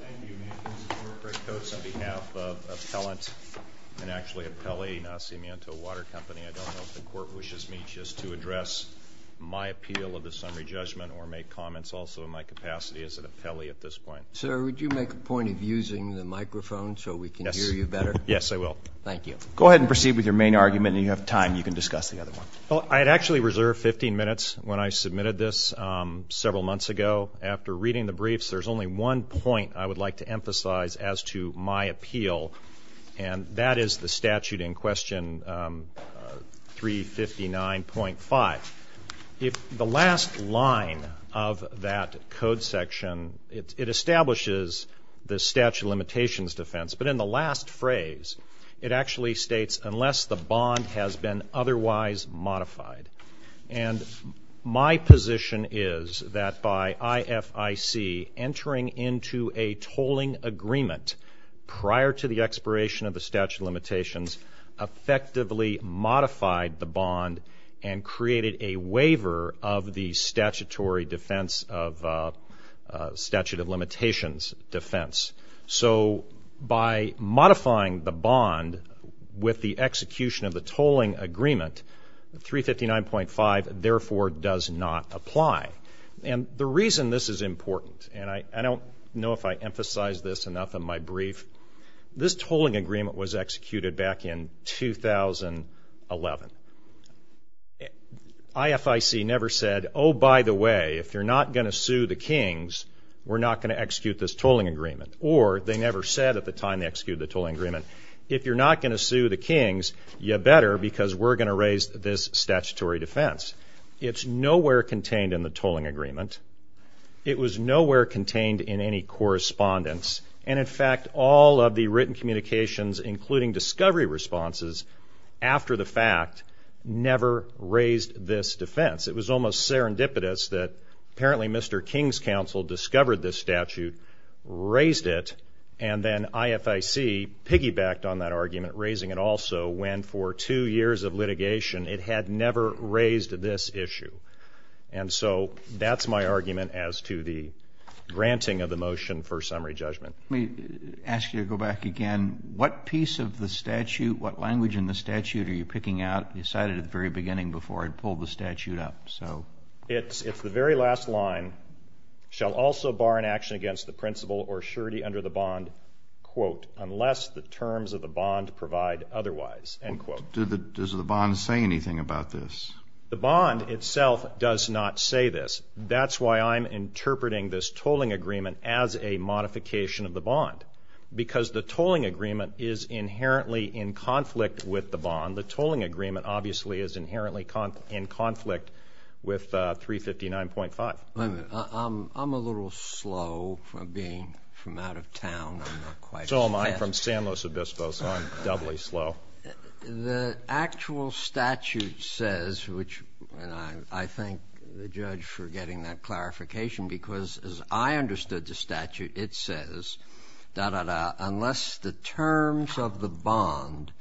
Thank you, Mr. Corporate Coats. On behalf of Appellant, and actually Appellee Nacimiento Water Company, I don't know if the Court wishes me just to address my appeal of the summary judgment or make comments also in my capacity as an appellee at this point. Sir, would you make a point of using the microphone so we can hear you better? Yes, I will. Thank you. Go ahead and proceed with your main argument, and if you have time, you can discuss the other one. Well, I had actually reserved 15 minutes when I submitted this several months ago. After reading the briefs, there's only one point I would like to emphasize as to my appeal, and that is the statute in question 359.5. The last line of that code section, it establishes the statute of limitations defense, but in the last phrase, it actually states, unless the bond has been otherwise modified. And my position is that by IFIC entering into a tolling agreement prior to the expiration of the statute of limitations effectively modified the bond and created a waiver of the statutory defense of statute of limitations defense. So by modifying the bond with the execution of the tolling agreement, 359.5 therefore does not apply. And the reason this is important, and I don't know if I emphasized this enough in my brief, this tolling agreement was executed back in 2011. IFIC never said, oh, by the way, if you're not going to sue the Kings, we're not going to execute this tolling agreement. Or they never said at the time they executed the tolling agreement, if you're not going to sue the Kings, you better because we're going to raise this statutory defense. It's nowhere contained in the tolling agreement. It was nowhere contained in any correspondence. And in fact, all of the written communications, including discovery responses, after the fact, never raised this defense. It was almost serendipitous that apparently Mr. King's counsel discovered this statute, raised it, and then IFIC piggybacked on that argument, raising it also when for two years of litigation it had never raised this issue. And so that's my argument as to the granting of the motion for summary judgment. Let me ask you to go back again. What piece of the statute, what language in the statute are you picking out? You cited it at the very beginning before I pulled the statute up. It's the very last line, shall also bar an action against the principle or surety under the bond, quote, unless the terms of the bond provide otherwise, end quote. Does the bond say anything about this? The bond itself does not say this. That's why I'm interpreting this tolling agreement as a modification of the bond because the tolling agreement is inherently in conflict with the bond. The tolling agreement obviously is inherently in conflict with 359.5. Wait a minute. I'm a little slow from being from out of town. So am I. I'm from San Luis Obispo, so I'm doubly slow. The actual statute says, which I thank the judge for getting that clarification because as I understood the statute, it says, da, da, da, unless the terms of the bond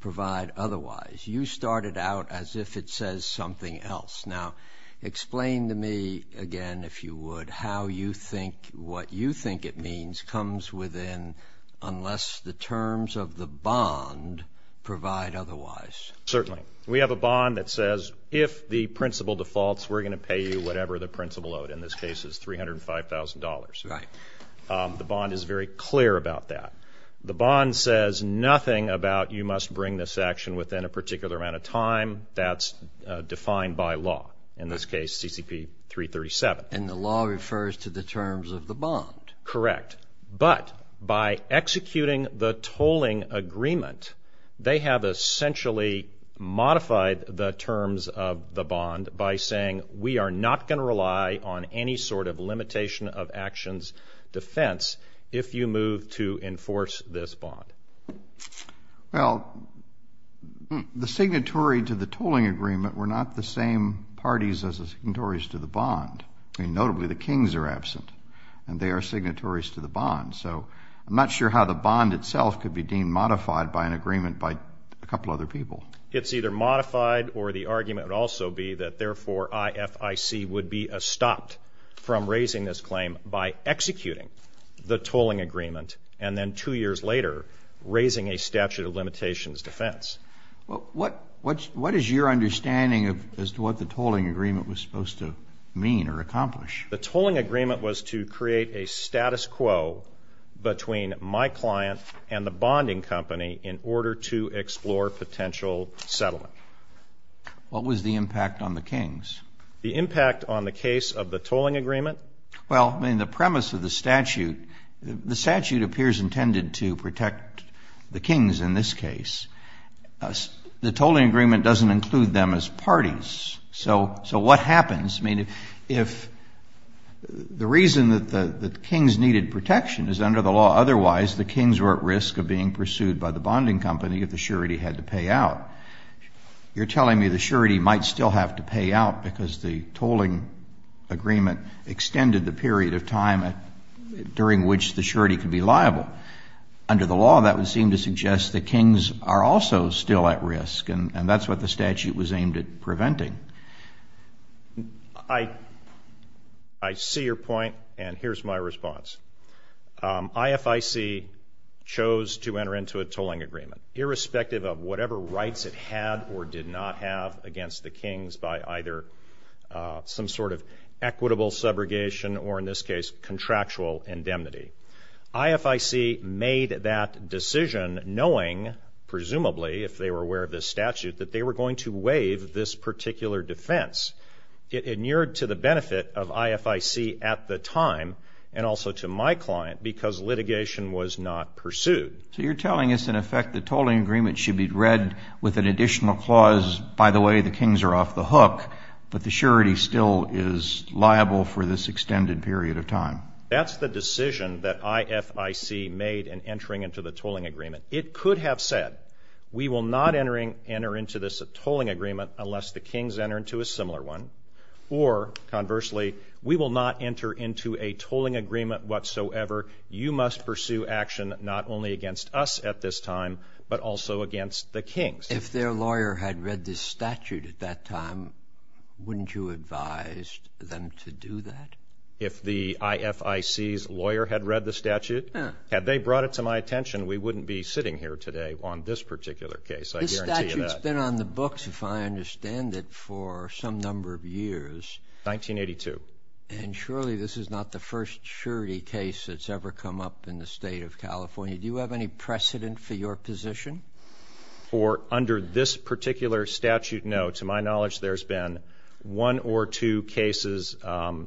provide otherwise. You started out as if it says something else. Now, explain to me again, if you would, how you think what you think it means comes within unless the terms of the bond provide otherwise. Certainly. We have a bond that says if the principle defaults, we're going to pay you whatever the principle owed. In this case, it's $305,000. Right. The bond is very clear about that. The bond says nothing about you must bring this action within a particular amount of time. That's defined by law. In this case, CCP 337. And the law refers to the terms of the bond. Correct. But by executing the tolling agreement, they have essentially modified the terms of the bond by saying we are not going to rely on any sort of limitation of actions defense if you move to enforce this bond. Well, the signatory to the tolling agreement were not the same parties as the signatories to the bond. I mean, notably, the kings are absent, and they are signatories to the bond. So I'm not sure how the bond itself could be deemed modified by an agreement by a couple other people. It's either modified or the argument would also be that, therefore, IFIC would be stopped from raising this claim by executing the tolling agreement and then two years later raising a statute of limitations defense. What is your understanding as to what the tolling agreement was supposed to mean or accomplish? The tolling agreement was to create a status quo between my client and the bonding company in order to explore potential settlement. What was the impact on the kings? The impact on the case of the tolling agreement? Well, I mean, the premise of the statute, the statute appears intended to protect the kings in this case. The tolling agreement doesn't include them as parties. So what happens? I mean, if the reason that the kings needed protection is under the law, otherwise the kings were at risk of being pursued by the bonding company if the surety had to pay out. You're telling me the surety might still have to pay out because the tolling agreement extended the period of time during which the surety could be liable. Under the law, that would seem to suggest the kings are also still at risk, and that's what the statute was aimed at preventing. I see your point, and here's my response. IFIC chose to enter into a tolling agreement, irrespective of whatever rights it had or did not have against the kings by either some sort of equitable subrogation or, in this case, contractual indemnity. IFIC made that decision knowing, presumably, if they were aware of this statute, that they were going to waive this particular defense. It inured to the benefit of IFIC at the time, and also to my client, because litigation was not pursued. So you're telling us, in effect, the tolling agreement should be read with an additional clause, by the way, the kings are off the hook, but the surety still is liable for this extended period of time. That's the decision that IFIC made in entering into the tolling agreement. It could have said, we will not enter into this tolling agreement unless the kings enter into a similar one, or conversely, we will not enter into a tolling agreement whatsoever. You must pursue action not only against us at this time, but also against the kings. If their lawyer had read this statute at that time, wouldn't you advise them to do that? If the IFIC's lawyer had read the statute, had they brought it to my attention, we wouldn't be sitting here today on this particular case, I guarantee you that. This statute's been on the books, if I understand it, for some number of years. 1982. And surely this is not the first surety case that's ever come up in the state of California. Do you have any precedent for your position? Under this particular statute, no. To my knowledge, there's been one or two cases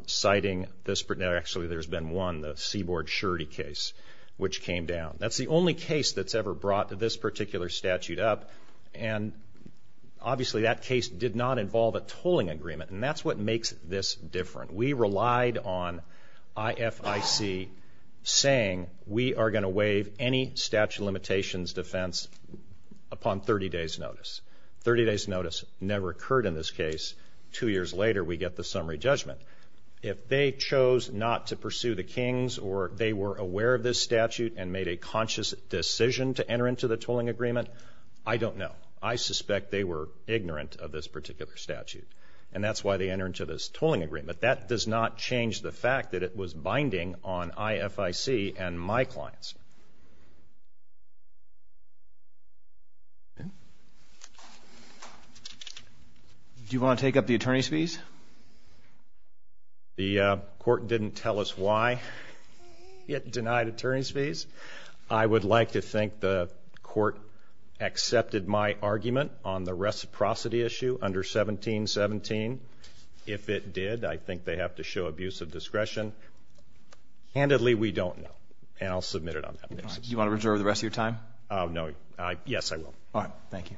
citing this. Actually, there's been one, the Seaboard surety case, which came down. That's the only case that's ever brought this particular statute up, and obviously that case did not involve a tolling agreement, and that's what makes this different. We relied on IFIC saying, we are going to waive any statute of limitations defense upon 30 days' notice. Thirty days' notice never occurred in this case. Two years later, we get the summary judgment. If they chose not to pursue the kings, or they were aware of this statute and made a conscious decision to enter into the tolling agreement, I don't know. I suspect they were ignorant of this particular statute, and that's why they entered into this tolling agreement. That does not change the fact that it was binding on IFIC and my clients. Do you want to take up the attorney's fees? The court didn't tell us why it denied attorney's fees. I would like to think the court accepted my argument on the reciprocity issue under 1717. If it did, I think they have to show abuse of discretion. Handedly, we don't know, and I'll submit it on that basis. Do you want to reserve the rest of your time? No. Yes, I will. All right. Thank you.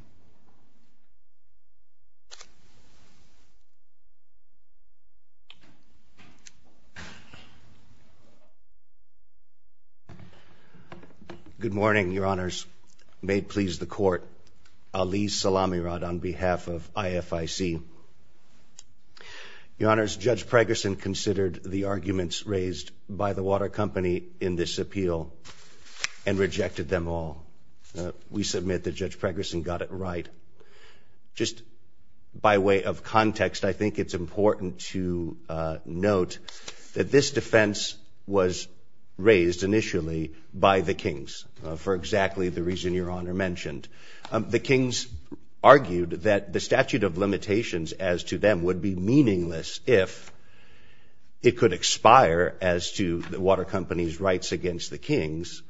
Good morning, Your Honors. May it please the court. Ali Salamirod on behalf of IFIC. Your Honors, Judge Pregerson considered the arguments raised by the water company in this appeal and rejected them all. We submit that Judge Pregerson got it right. Just by way of context, I think it's important to note that this defense was raised initially by the kings, for exactly the reason Your Honor mentioned. The kings argued that the statute of limitations as to them would be meaningless if it could expire as to the water company's rights against the kings,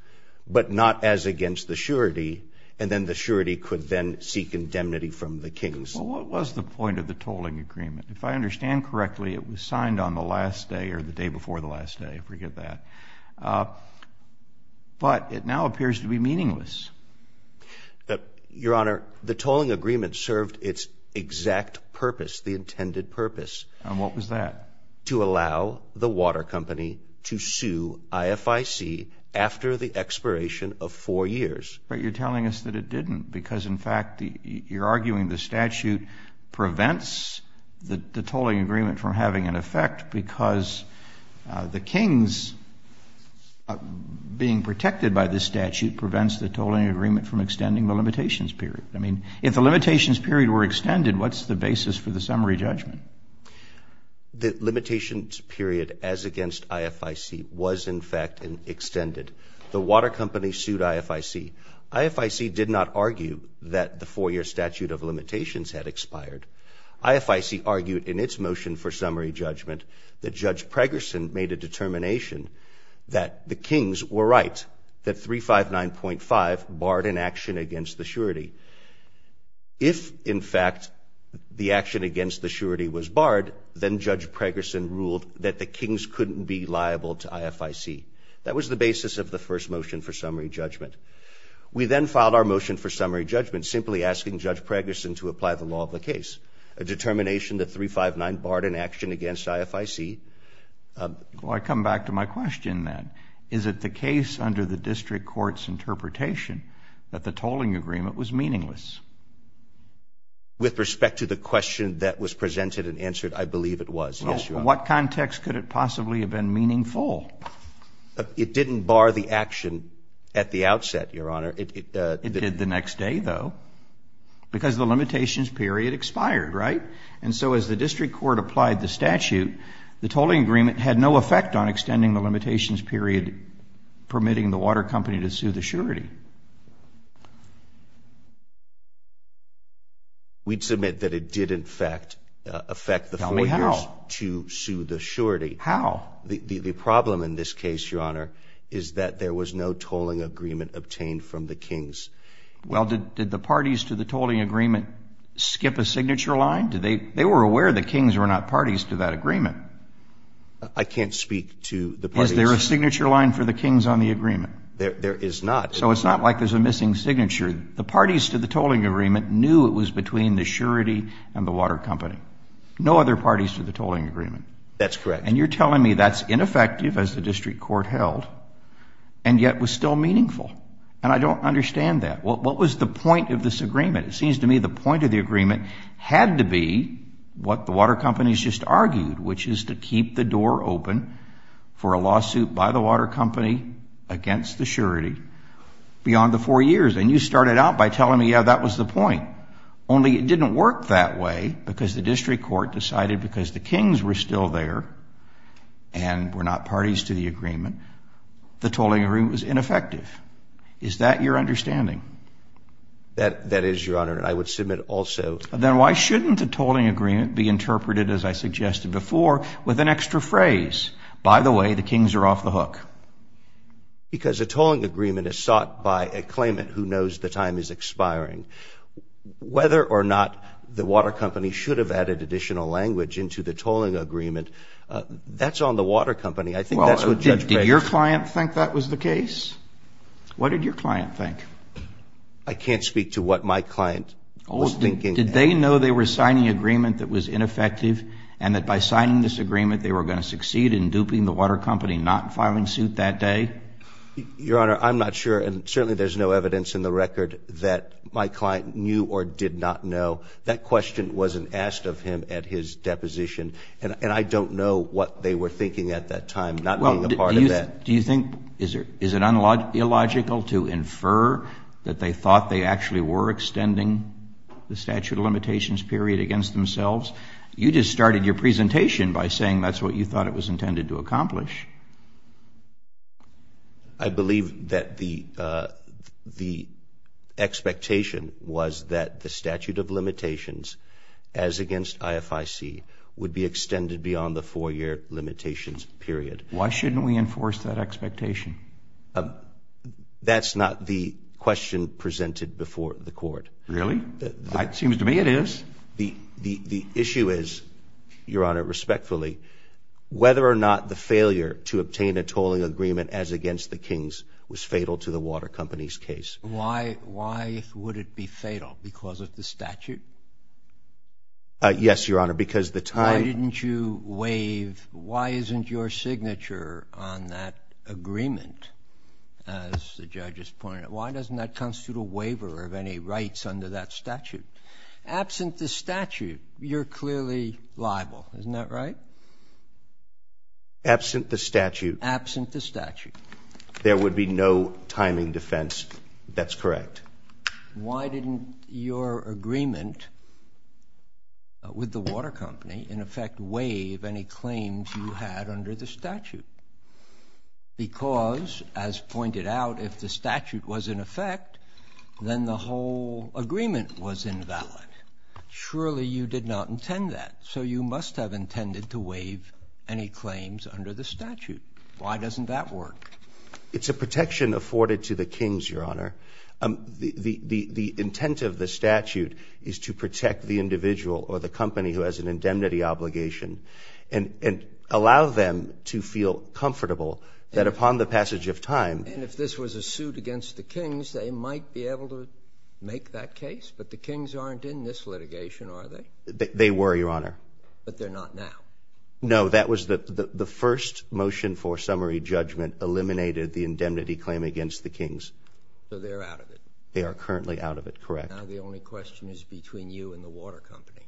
but not as against the surety, and then the surety could then seek indemnity from the kings. Well, what was the point of the tolling agreement? If I understand correctly, it was signed on the last day or the day before the last day. I forget that. But it now appears to be meaningless. Your Honor, the tolling agreement served its exact purpose, the intended purpose. And what was that? To allow the water company to sue IFIC after the expiration of four years. But you're telling us that it didn't because, in fact, you're arguing the statute prevents the tolling agreement from having an effect because the kings being protected by this statute prevents the tolling agreement from extending the limitations period. I mean, if the limitations period were extended, what's the basis for the summary judgment? The limitations period as against IFIC was, in fact, extended. The water company sued IFIC. IFIC did not argue that the four-year statute of limitations had expired. IFIC argued in its motion for summary judgment that Judge Pregerson made a determination that the kings were right, that 359.5 barred an action against the surety. If, in fact, the action against the surety was barred, then Judge Pregerson ruled that the kings couldn't be liable to IFIC. That was the basis of the first motion for summary judgment. We then filed our motion for summary judgment simply asking Judge Pregerson to apply the law of the case, a determination that 359.5 barred an action against IFIC. Well, I come back to my question then. Is it the case under the district court's interpretation that the tolling agreement was meaningless? With respect to the question that was presented and answered, I believe it was, yes, Your Honor. Well, what context could it possibly have been meaningful? It didn't bar the action at the outset, Your Honor. It did the next day, though, because the limitations period expired, right? And so as the district court applied the statute, the tolling agreement had no effect on extending the limitations period, permitting the water company to sue the surety. We'd submit that it did, in fact, affect the four years to sue the surety. How? The problem in this case, Your Honor, is that there was no tolling agreement obtained from the kings. Well, did the parties to the tolling agreement skip a signature line? They were aware the kings were not parties to that agreement. I can't speak to the parties. Is there a signature line for the kings on the agreement? There is not. So it's not like there's a missing signature. The parties to the tolling agreement knew it was between the surety and the water company. No other parties to the tolling agreement. That's correct. And you're telling me that's ineffective, as the district court held, and yet was still meaningful. And I don't understand that. What was the point of this agreement? It seems to me the point of the agreement had to be what the water companies just argued, which is to keep the door open for a lawsuit by the water company against the surety beyond the four years. And you started out by telling me, yeah, that was the point. Only it didn't work that way because the district court decided because the kings were still there and were not parties to the agreement, the tolling agreement was ineffective. Is that your understanding? That is, Your Honor, and I would submit also. Then why shouldn't the tolling agreement be interpreted, as I suggested before, with an extra phrase, by the way, the kings are off the hook? Because a tolling agreement is sought by a claimant who knows the time is expiring. Whether or not the water company should have added additional language into the tolling agreement, that's on the water company. I think that's what Judge Breyer said. Did your client think that was the case? What did your client think? I can't speak to what my client was thinking. Did they know they were signing an agreement that was ineffective and that by signing this agreement they were going to succeed in duping the water company not filing suit that day? Your Honor, I'm not sure, and certainly there's no evidence in the record that my client knew or did not know. That question wasn't asked of him at his deposition, and I don't know what they were thinking at that time, not being a part of that. Well, do you think, is it illogical to infer that they thought they actually were extending the statute of limitations period against themselves? You just started your presentation by saying that's what you thought it was intended to accomplish. I believe that the expectation was that the statute of limitations as against IFIC would be extended beyond the four-year limitations period. Why shouldn't we enforce that expectation? That's not the question presented before the Court. Really? It seems to me it is. The issue is, Your Honor, respectfully, whether or not the failure to obtain a tolling agreement as against the King's was fatal to the water company's case. Why would it be fatal? Because of the statute? Yes, Your Honor, because the time- Why didn't you waive, why isn't your signature on that agreement, as the judge has pointed out, why doesn't that constitute a waiver of any rights under that statute? Absent the statute, you're clearly liable, isn't that right? Absent the statute. Absent the statute. There would be no timing defense that's correct. Why didn't your agreement with the water company, in effect, waive any claims you had under the statute? Because, as pointed out, if the statute was in effect, then the whole agreement was invalid. Surely you did not intend that, so you must have intended to waive any claims under the statute. Why doesn't that work? It's a protection afforded to the King's, Your Honor. The intent of the statute is to protect the individual or the company who has an indemnity obligation and allow them to feel comfortable that upon the passage of time- And if this was a suit against the King's, they might be able to make that case, but the King's aren't in this litigation, are they? They were, Your Honor. But they're not now. No, that was the first motion for summary judgment eliminated the indemnity claim against the King's. So they're out of it. They are currently out of it, correct. Now the only question is between you and the water company.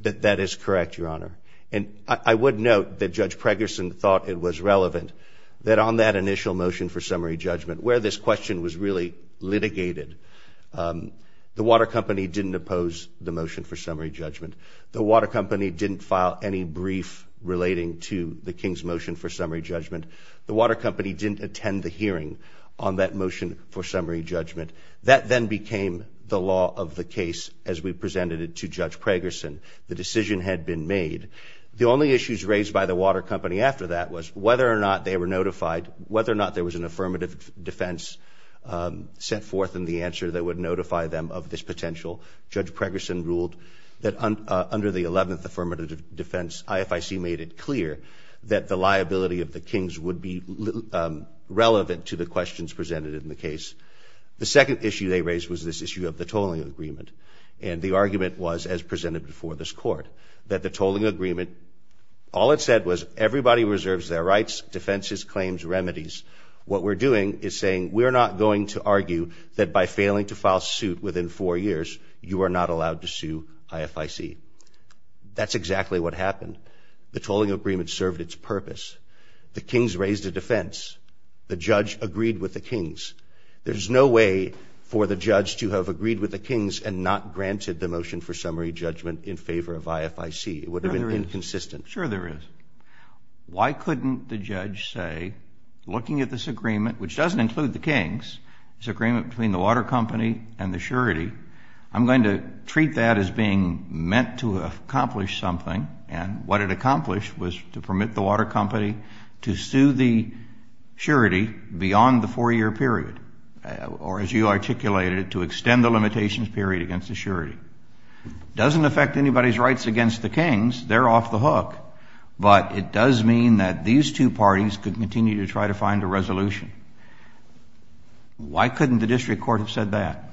That is correct, Your Honor. And I would note that Judge Pregerson thought it was relevant that on that initial motion for summary judgment, where this question was really litigated, the water company didn't oppose the motion for summary judgment. The water company didn't file any brief relating to the King's motion for summary judgment. The water company didn't attend the hearing on that motion for summary judgment. That then became the law of the case as we presented it to Judge Pregerson. The decision had been made. The only issues raised by the water company after that was whether or not they were notified, whether or not there was an affirmative defense set forth in the answer that would notify them of this potential. Judge Pregerson ruled that under the 11th affirmative defense, IFIC made it clear that the liability of the King's would be relevant to the questions presented in the case. The second issue they raised was this issue of the tolling agreement. And the argument was, as presented before this court, that the tolling agreement, all it said was everybody reserves their rights, defenses, claims, remedies. What we're doing is saying we're not going to argue that by failing to file suit within four years, you are not allowed to sue IFIC. That's exactly what happened. The tolling agreement served its purpose. The King's raised a defense. The judge agreed with the King's. There's no way for the judge to have agreed with the King's and not granted the motion for summary judgment in favor of IFIC. It would have been inconsistent. Sure there is. Why couldn't the judge say, looking at this agreement, which doesn't include the King's, this agreement between the water company and the surety, I'm going to treat that as being meant to accomplish something, and what it accomplished was to permit the water company to sue the surety beyond the four-year period, or as you articulated, to extend the limitations period against the surety. It doesn't affect anybody's rights against the King's. They're off the hook. But it does mean that these two parties could continue to try to find a resolution. Why couldn't the district court have said that?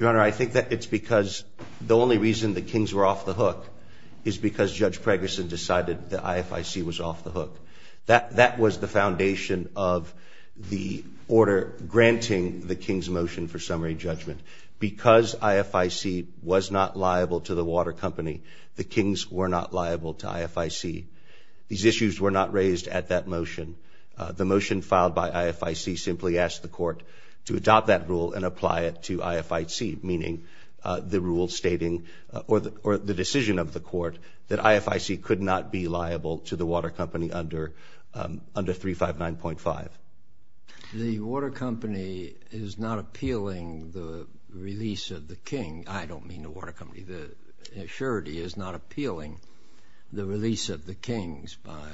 Your Honor, I think that it's because the only reason the King's were off the hook is because Judge Pregerson decided that IFIC was off the hook. That was the foundation of the order granting the King's motion for summary judgment. Because IFIC was not liable to the water company, the King's were not liable to IFIC. These issues were not raised at that motion. The motion filed by IFIC simply asked the court to adopt that rule and apply it to IFIC, meaning the rule stating, or the decision of the court, that IFIC could not be liable to the water company under 359.5. The water company is not appealing the release of the King. I don't mean the water company. The surety is not appealing the release of the King's by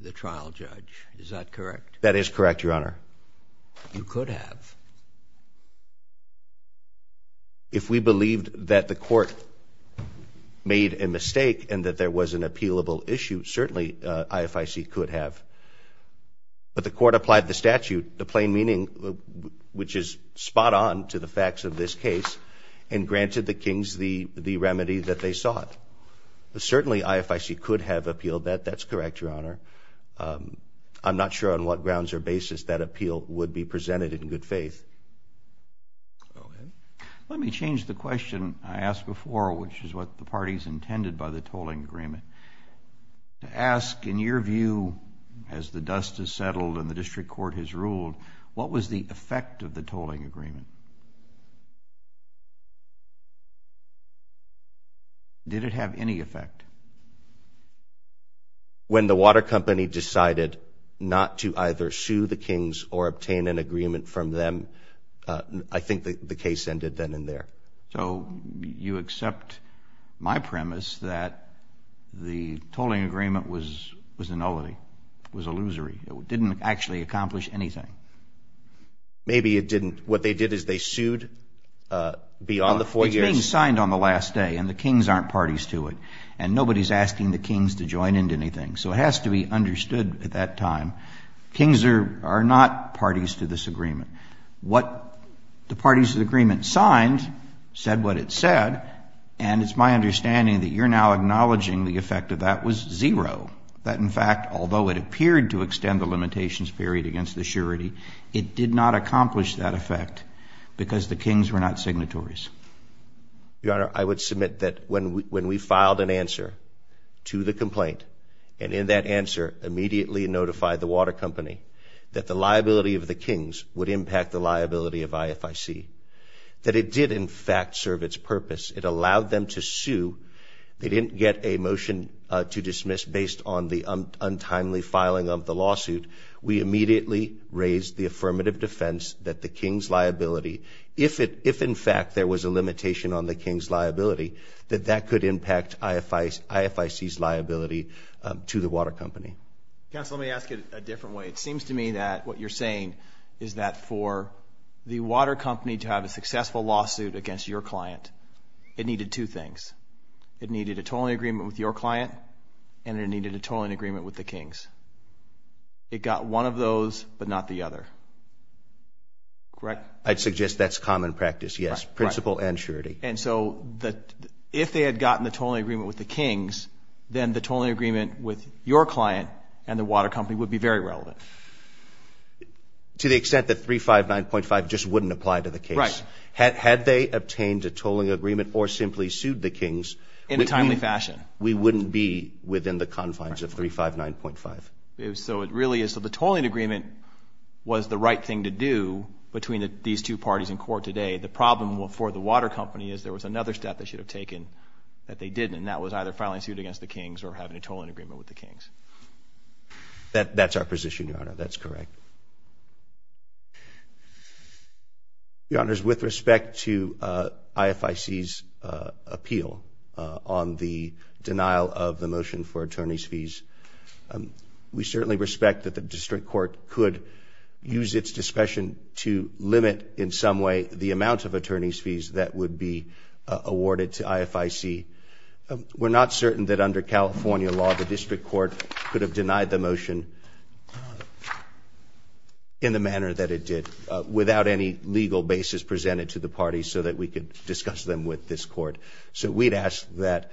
the trial judge. Is that correct? That is correct, Your Honor. You could have. If we believed that the court made a mistake and that there was an appealable issue, certainly IFIC could have. But the court applied the statute, the plain meaning, which is spot on to the facts of this case, and granted the King's the remedy that they sought. Certainly IFIC could have appealed that. That's correct, Your Honor. I'm not sure on what grounds or basis that appeal would be presented in good faith. Let me change the question I asked before, which is what the parties intended by the tolling agreement. To ask, in your view, as the dust has settled and the district court has ruled, what was the effect of the tolling agreement? Did it have any effect? When the water company decided not to either sue the King's or obtain an agreement from them, I think the case ended then and there. So you accept my premise that the tolling agreement was a nullity, was illusory, didn't actually accomplish anything? Maybe it didn't. What they did is they sued beyond the four years. It's being signed on the last day, and the King's aren't parties to it, and nobody is asking the King's to join into anything. So it has to be understood at that time, King's are not parties to this agreement. What the parties to the agreement signed said what it said, and it's my understanding that you're now acknowledging the effect of that was zero, that, in fact, although it appeared to extend the limitations period against the surety, it did not accomplish that effect because the King's were not signatories. Your Honor, I would submit that when we filed an answer to the complaint and in that answer immediately notified the water company that the liability of the King's would impact the liability of IFIC, that it did, in fact, serve its purpose. It allowed them to sue. They didn't get a motion to dismiss based on the untimely filing of the lawsuit. We immediately raised the affirmative defense that the King's liability, if in fact there was a limitation on the King's liability, that that could impact IFIC's liability to the water company. Counsel, let me ask it a different way. It seems to me that what you're saying is that for the water company to have a successful lawsuit against your client, it needed two things. It needed a totaling agreement with your client, and it needed a totaling agreement with the King's. It got one of those but not the other. Correct? I'd suggest that's common practice, yes, principle and surety. And so if they had gotten the totaling agreement with the King's, then the totaling agreement with your client and the water company would be very relevant. To the extent that 359.5 just wouldn't apply to the case. Right. Had they obtained a toling agreement or simply sued the King's, we wouldn't be within the confines of 359.5. So the toling agreement was the right thing to do between these two parties in court today. The problem for the water company is there was another step they should have taken that they didn't, and that was either filing a suit against the King's or having a toling agreement with the King's. That's our position, Your Honor. That's correct. Your Honors, with respect to IFIC's appeal on the denial of the motion for attorney's fees, we certainly respect that the district court could use its discretion to limit in some way the amount of attorney's fees that would be awarded to IFIC. We're not certain that under California law the district court could have denied the motion in the manner that it did, without any legal basis presented to the parties so that we could discuss them with this court. So we'd ask that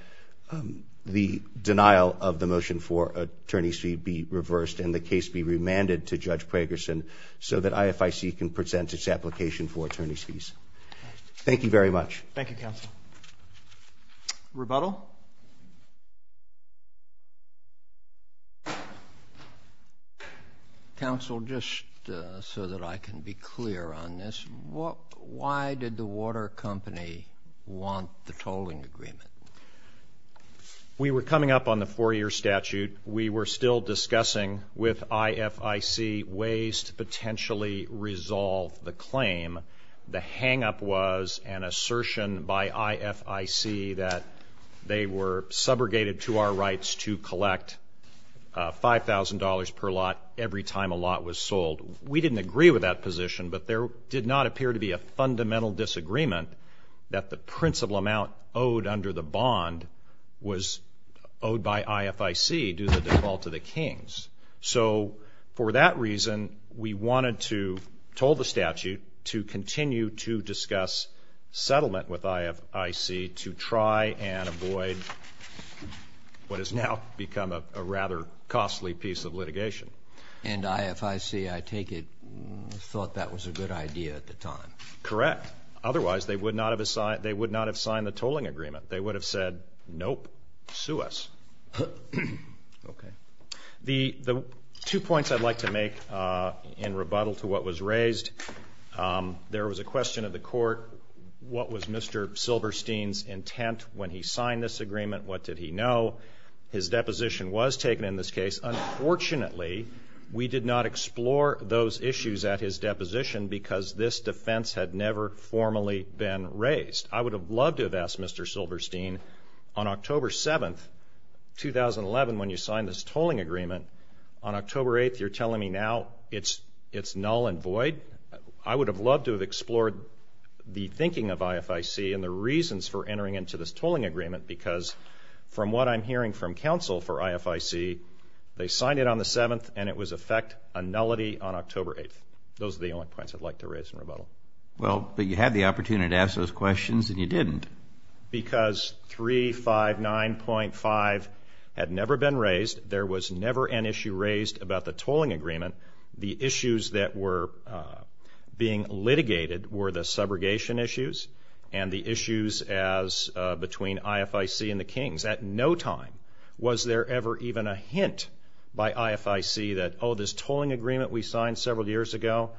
the denial of the motion for attorney's fee be reversed and the case be remanded to Judge Pragerson so that IFIC can present its application for attorney's fees. Thank you very much. Thank you, Counsel. Rebuttal? Counsel, just so that I can be clear on this, why did the water company want the toling agreement? We were coming up on the four-year statute. We were still discussing with IFIC ways to potentially resolve the claim. The hang-up was an assertion by IFIC that they were subrogated to our rights to collect $5,000 per lot every time a lot was sold. We didn't agree with that position, but there did not appear to be a fundamental disagreement that the principal amount owed under the bond was owed by IFIC due to the default of the Kings. So for that reason, we wanted to toll the statute to continue to discuss settlement with IFIC to try and avoid what has now become a rather costly piece of litigation. And IFIC, I take it, thought that was a good idea at the time? Correct. Otherwise, they would not have signed the toling agreement. They would have said, nope, sue us. Okay. The two points I'd like to make in rebuttal to what was raised. There was a question of the court, what was Mr. Silberstein's intent when he signed this agreement? What did he know? His deposition was taken in this case. Unfortunately, we did not explore those issues at his deposition because this defense had never formally been raised. I would have loved to have asked Mr. Silberstein, on October 7th, 2011, when you signed this toling agreement, on October 8th, you're telling me now it's null and void? I would have loved to have explored the thinking of IFIC and the reasons for entering into this toling agreement because from what I'm hearing from counsel for IFIC, they signed it on the 7th and it was in effect a nullity on October 8th. Those are the only points I'd like to raise in rebuttal. Well, but you had the opportunity to ask those questions and you didn't. Because 359.5 had never been raised. There was never an issue raised about the toling agreement. The issues that were being litigated were the subrogation issues and the issues between IFIC and the Kings. At no time was there ever even a hint by IFIC that, oh, this toling agreement we signed several years ago,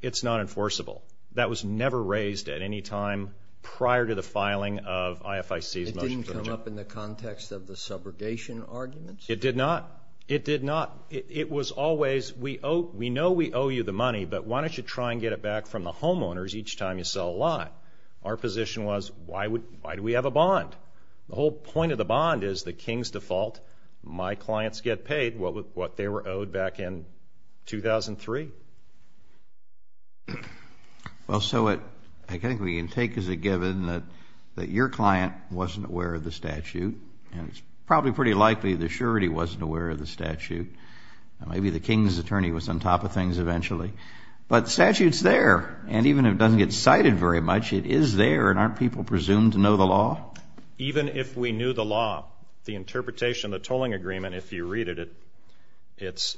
it's not enforceable. That was never raised at any time prior to the filing of IFIC's motion for adjournment. It didn't come up in the context of the subrogation arguments? It did not. It did not. It was always, we know we owe you the money, but why don't you try and get it back from the homeowners each time you sell a lot? Our position was, why do we have a bond? The whole point of the bond is the King's default. My clients get paid what they were owed back in 2003. Well, so I think we can take as a given that your client wasn't aware of the statute, and it's probably pretty likely the surety wasn't aware of the statute. Maybe the King's attorney was on top of things eventually. But the statute's there. And even if it doesn't get cited very much, it is there, and aren't people presumed to know the law? Even if we knew the law, the interpretation of the toling agreement, if you read it, it's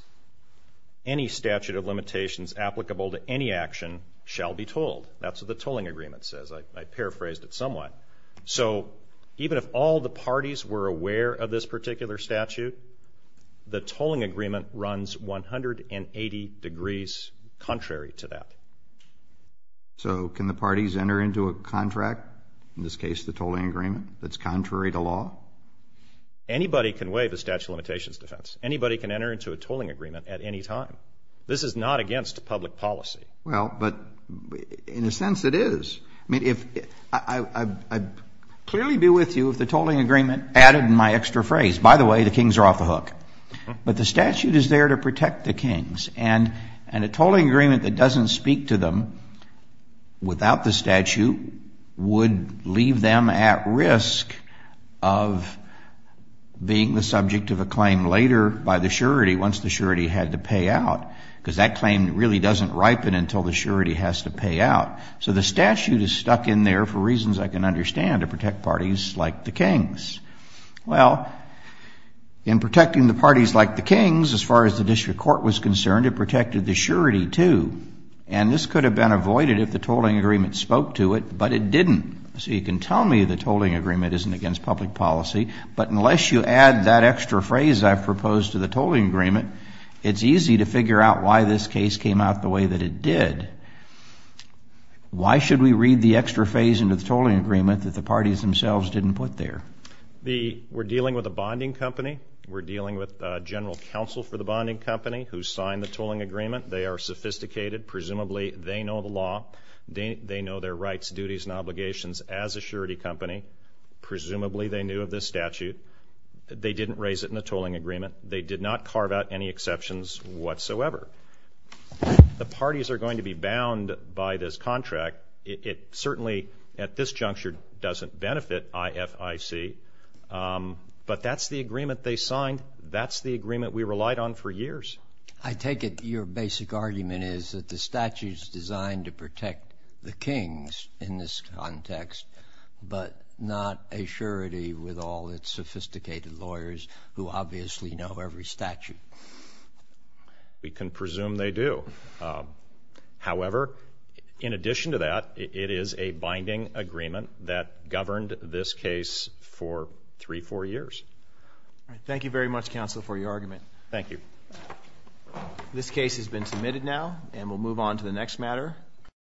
any statute of limitations applicable to any action shall be told. That's what the toling agreement says. I paraphrased it somewhat. So even if all the parties were aware of this particular statute, the toling agreement runs 180 degrees contrary to that. So can the parties enter into a contract, in this case the toling agreement, that's contrary to law? Anybody can waive a statute of limitations defense. Anybody can enter into a toling agreement at any time. This is not against public policy. Well, but in a sense it is. I mean, I'd clearly be with you if the toling agreement added my extra phrase. By the way, the King's are off the hook. But the statute is there to protect the King's. And a toling agreement that doesn't speak to them without the statute would leave them at risk of being the subject of a claim later by the surety, once the surety had to pay out, because that claim really doesn't ripen until the surety has to pay out. So the statute is stuck in there for reasons I can understand to protect parties like the King's. Well, in protecting the parties like the King's, as far as the district court was concerned, it protected the surety too. And this could have been avoided if the toling agreement spoke to it, but it didn't. So you can tell me the toling agreement isn't against public policy. But unless you add that extra phrase I've proposed to the toling agreement, it's easy to figure out why this case came out the way that it did. Why should we read the extra phrase into the toling agreement that the parties themselves didn't put there? We're dealing with a bonding company. We're dealing with general counsel for the bonding company who signed the toling agreement. They are sophisticated. Presumably they know the law. They know their rights, duties, and obligations as a surety company. Presumably they knew of this statute. They didn't raise it in the toling agreement. They did not carve out any exceptions whatsoever. The parties are going to be bound by this contract. It certainly at this juncture doesn't benefit IFIC, but that's the agreement they signed. That's the agreement we relied on for years. I take it your basic argument is that the statute is designed to protect the King's in this context, but not a surety with all its sophisticated lawyers who obviously know every statute. We can presume they do. However, in addition to that, it is a binding agreement that governed this case for three, four years. Thank you very much, counsel, for your argument. Thank you. This case has been submitted now, and we'll move on to the next matter.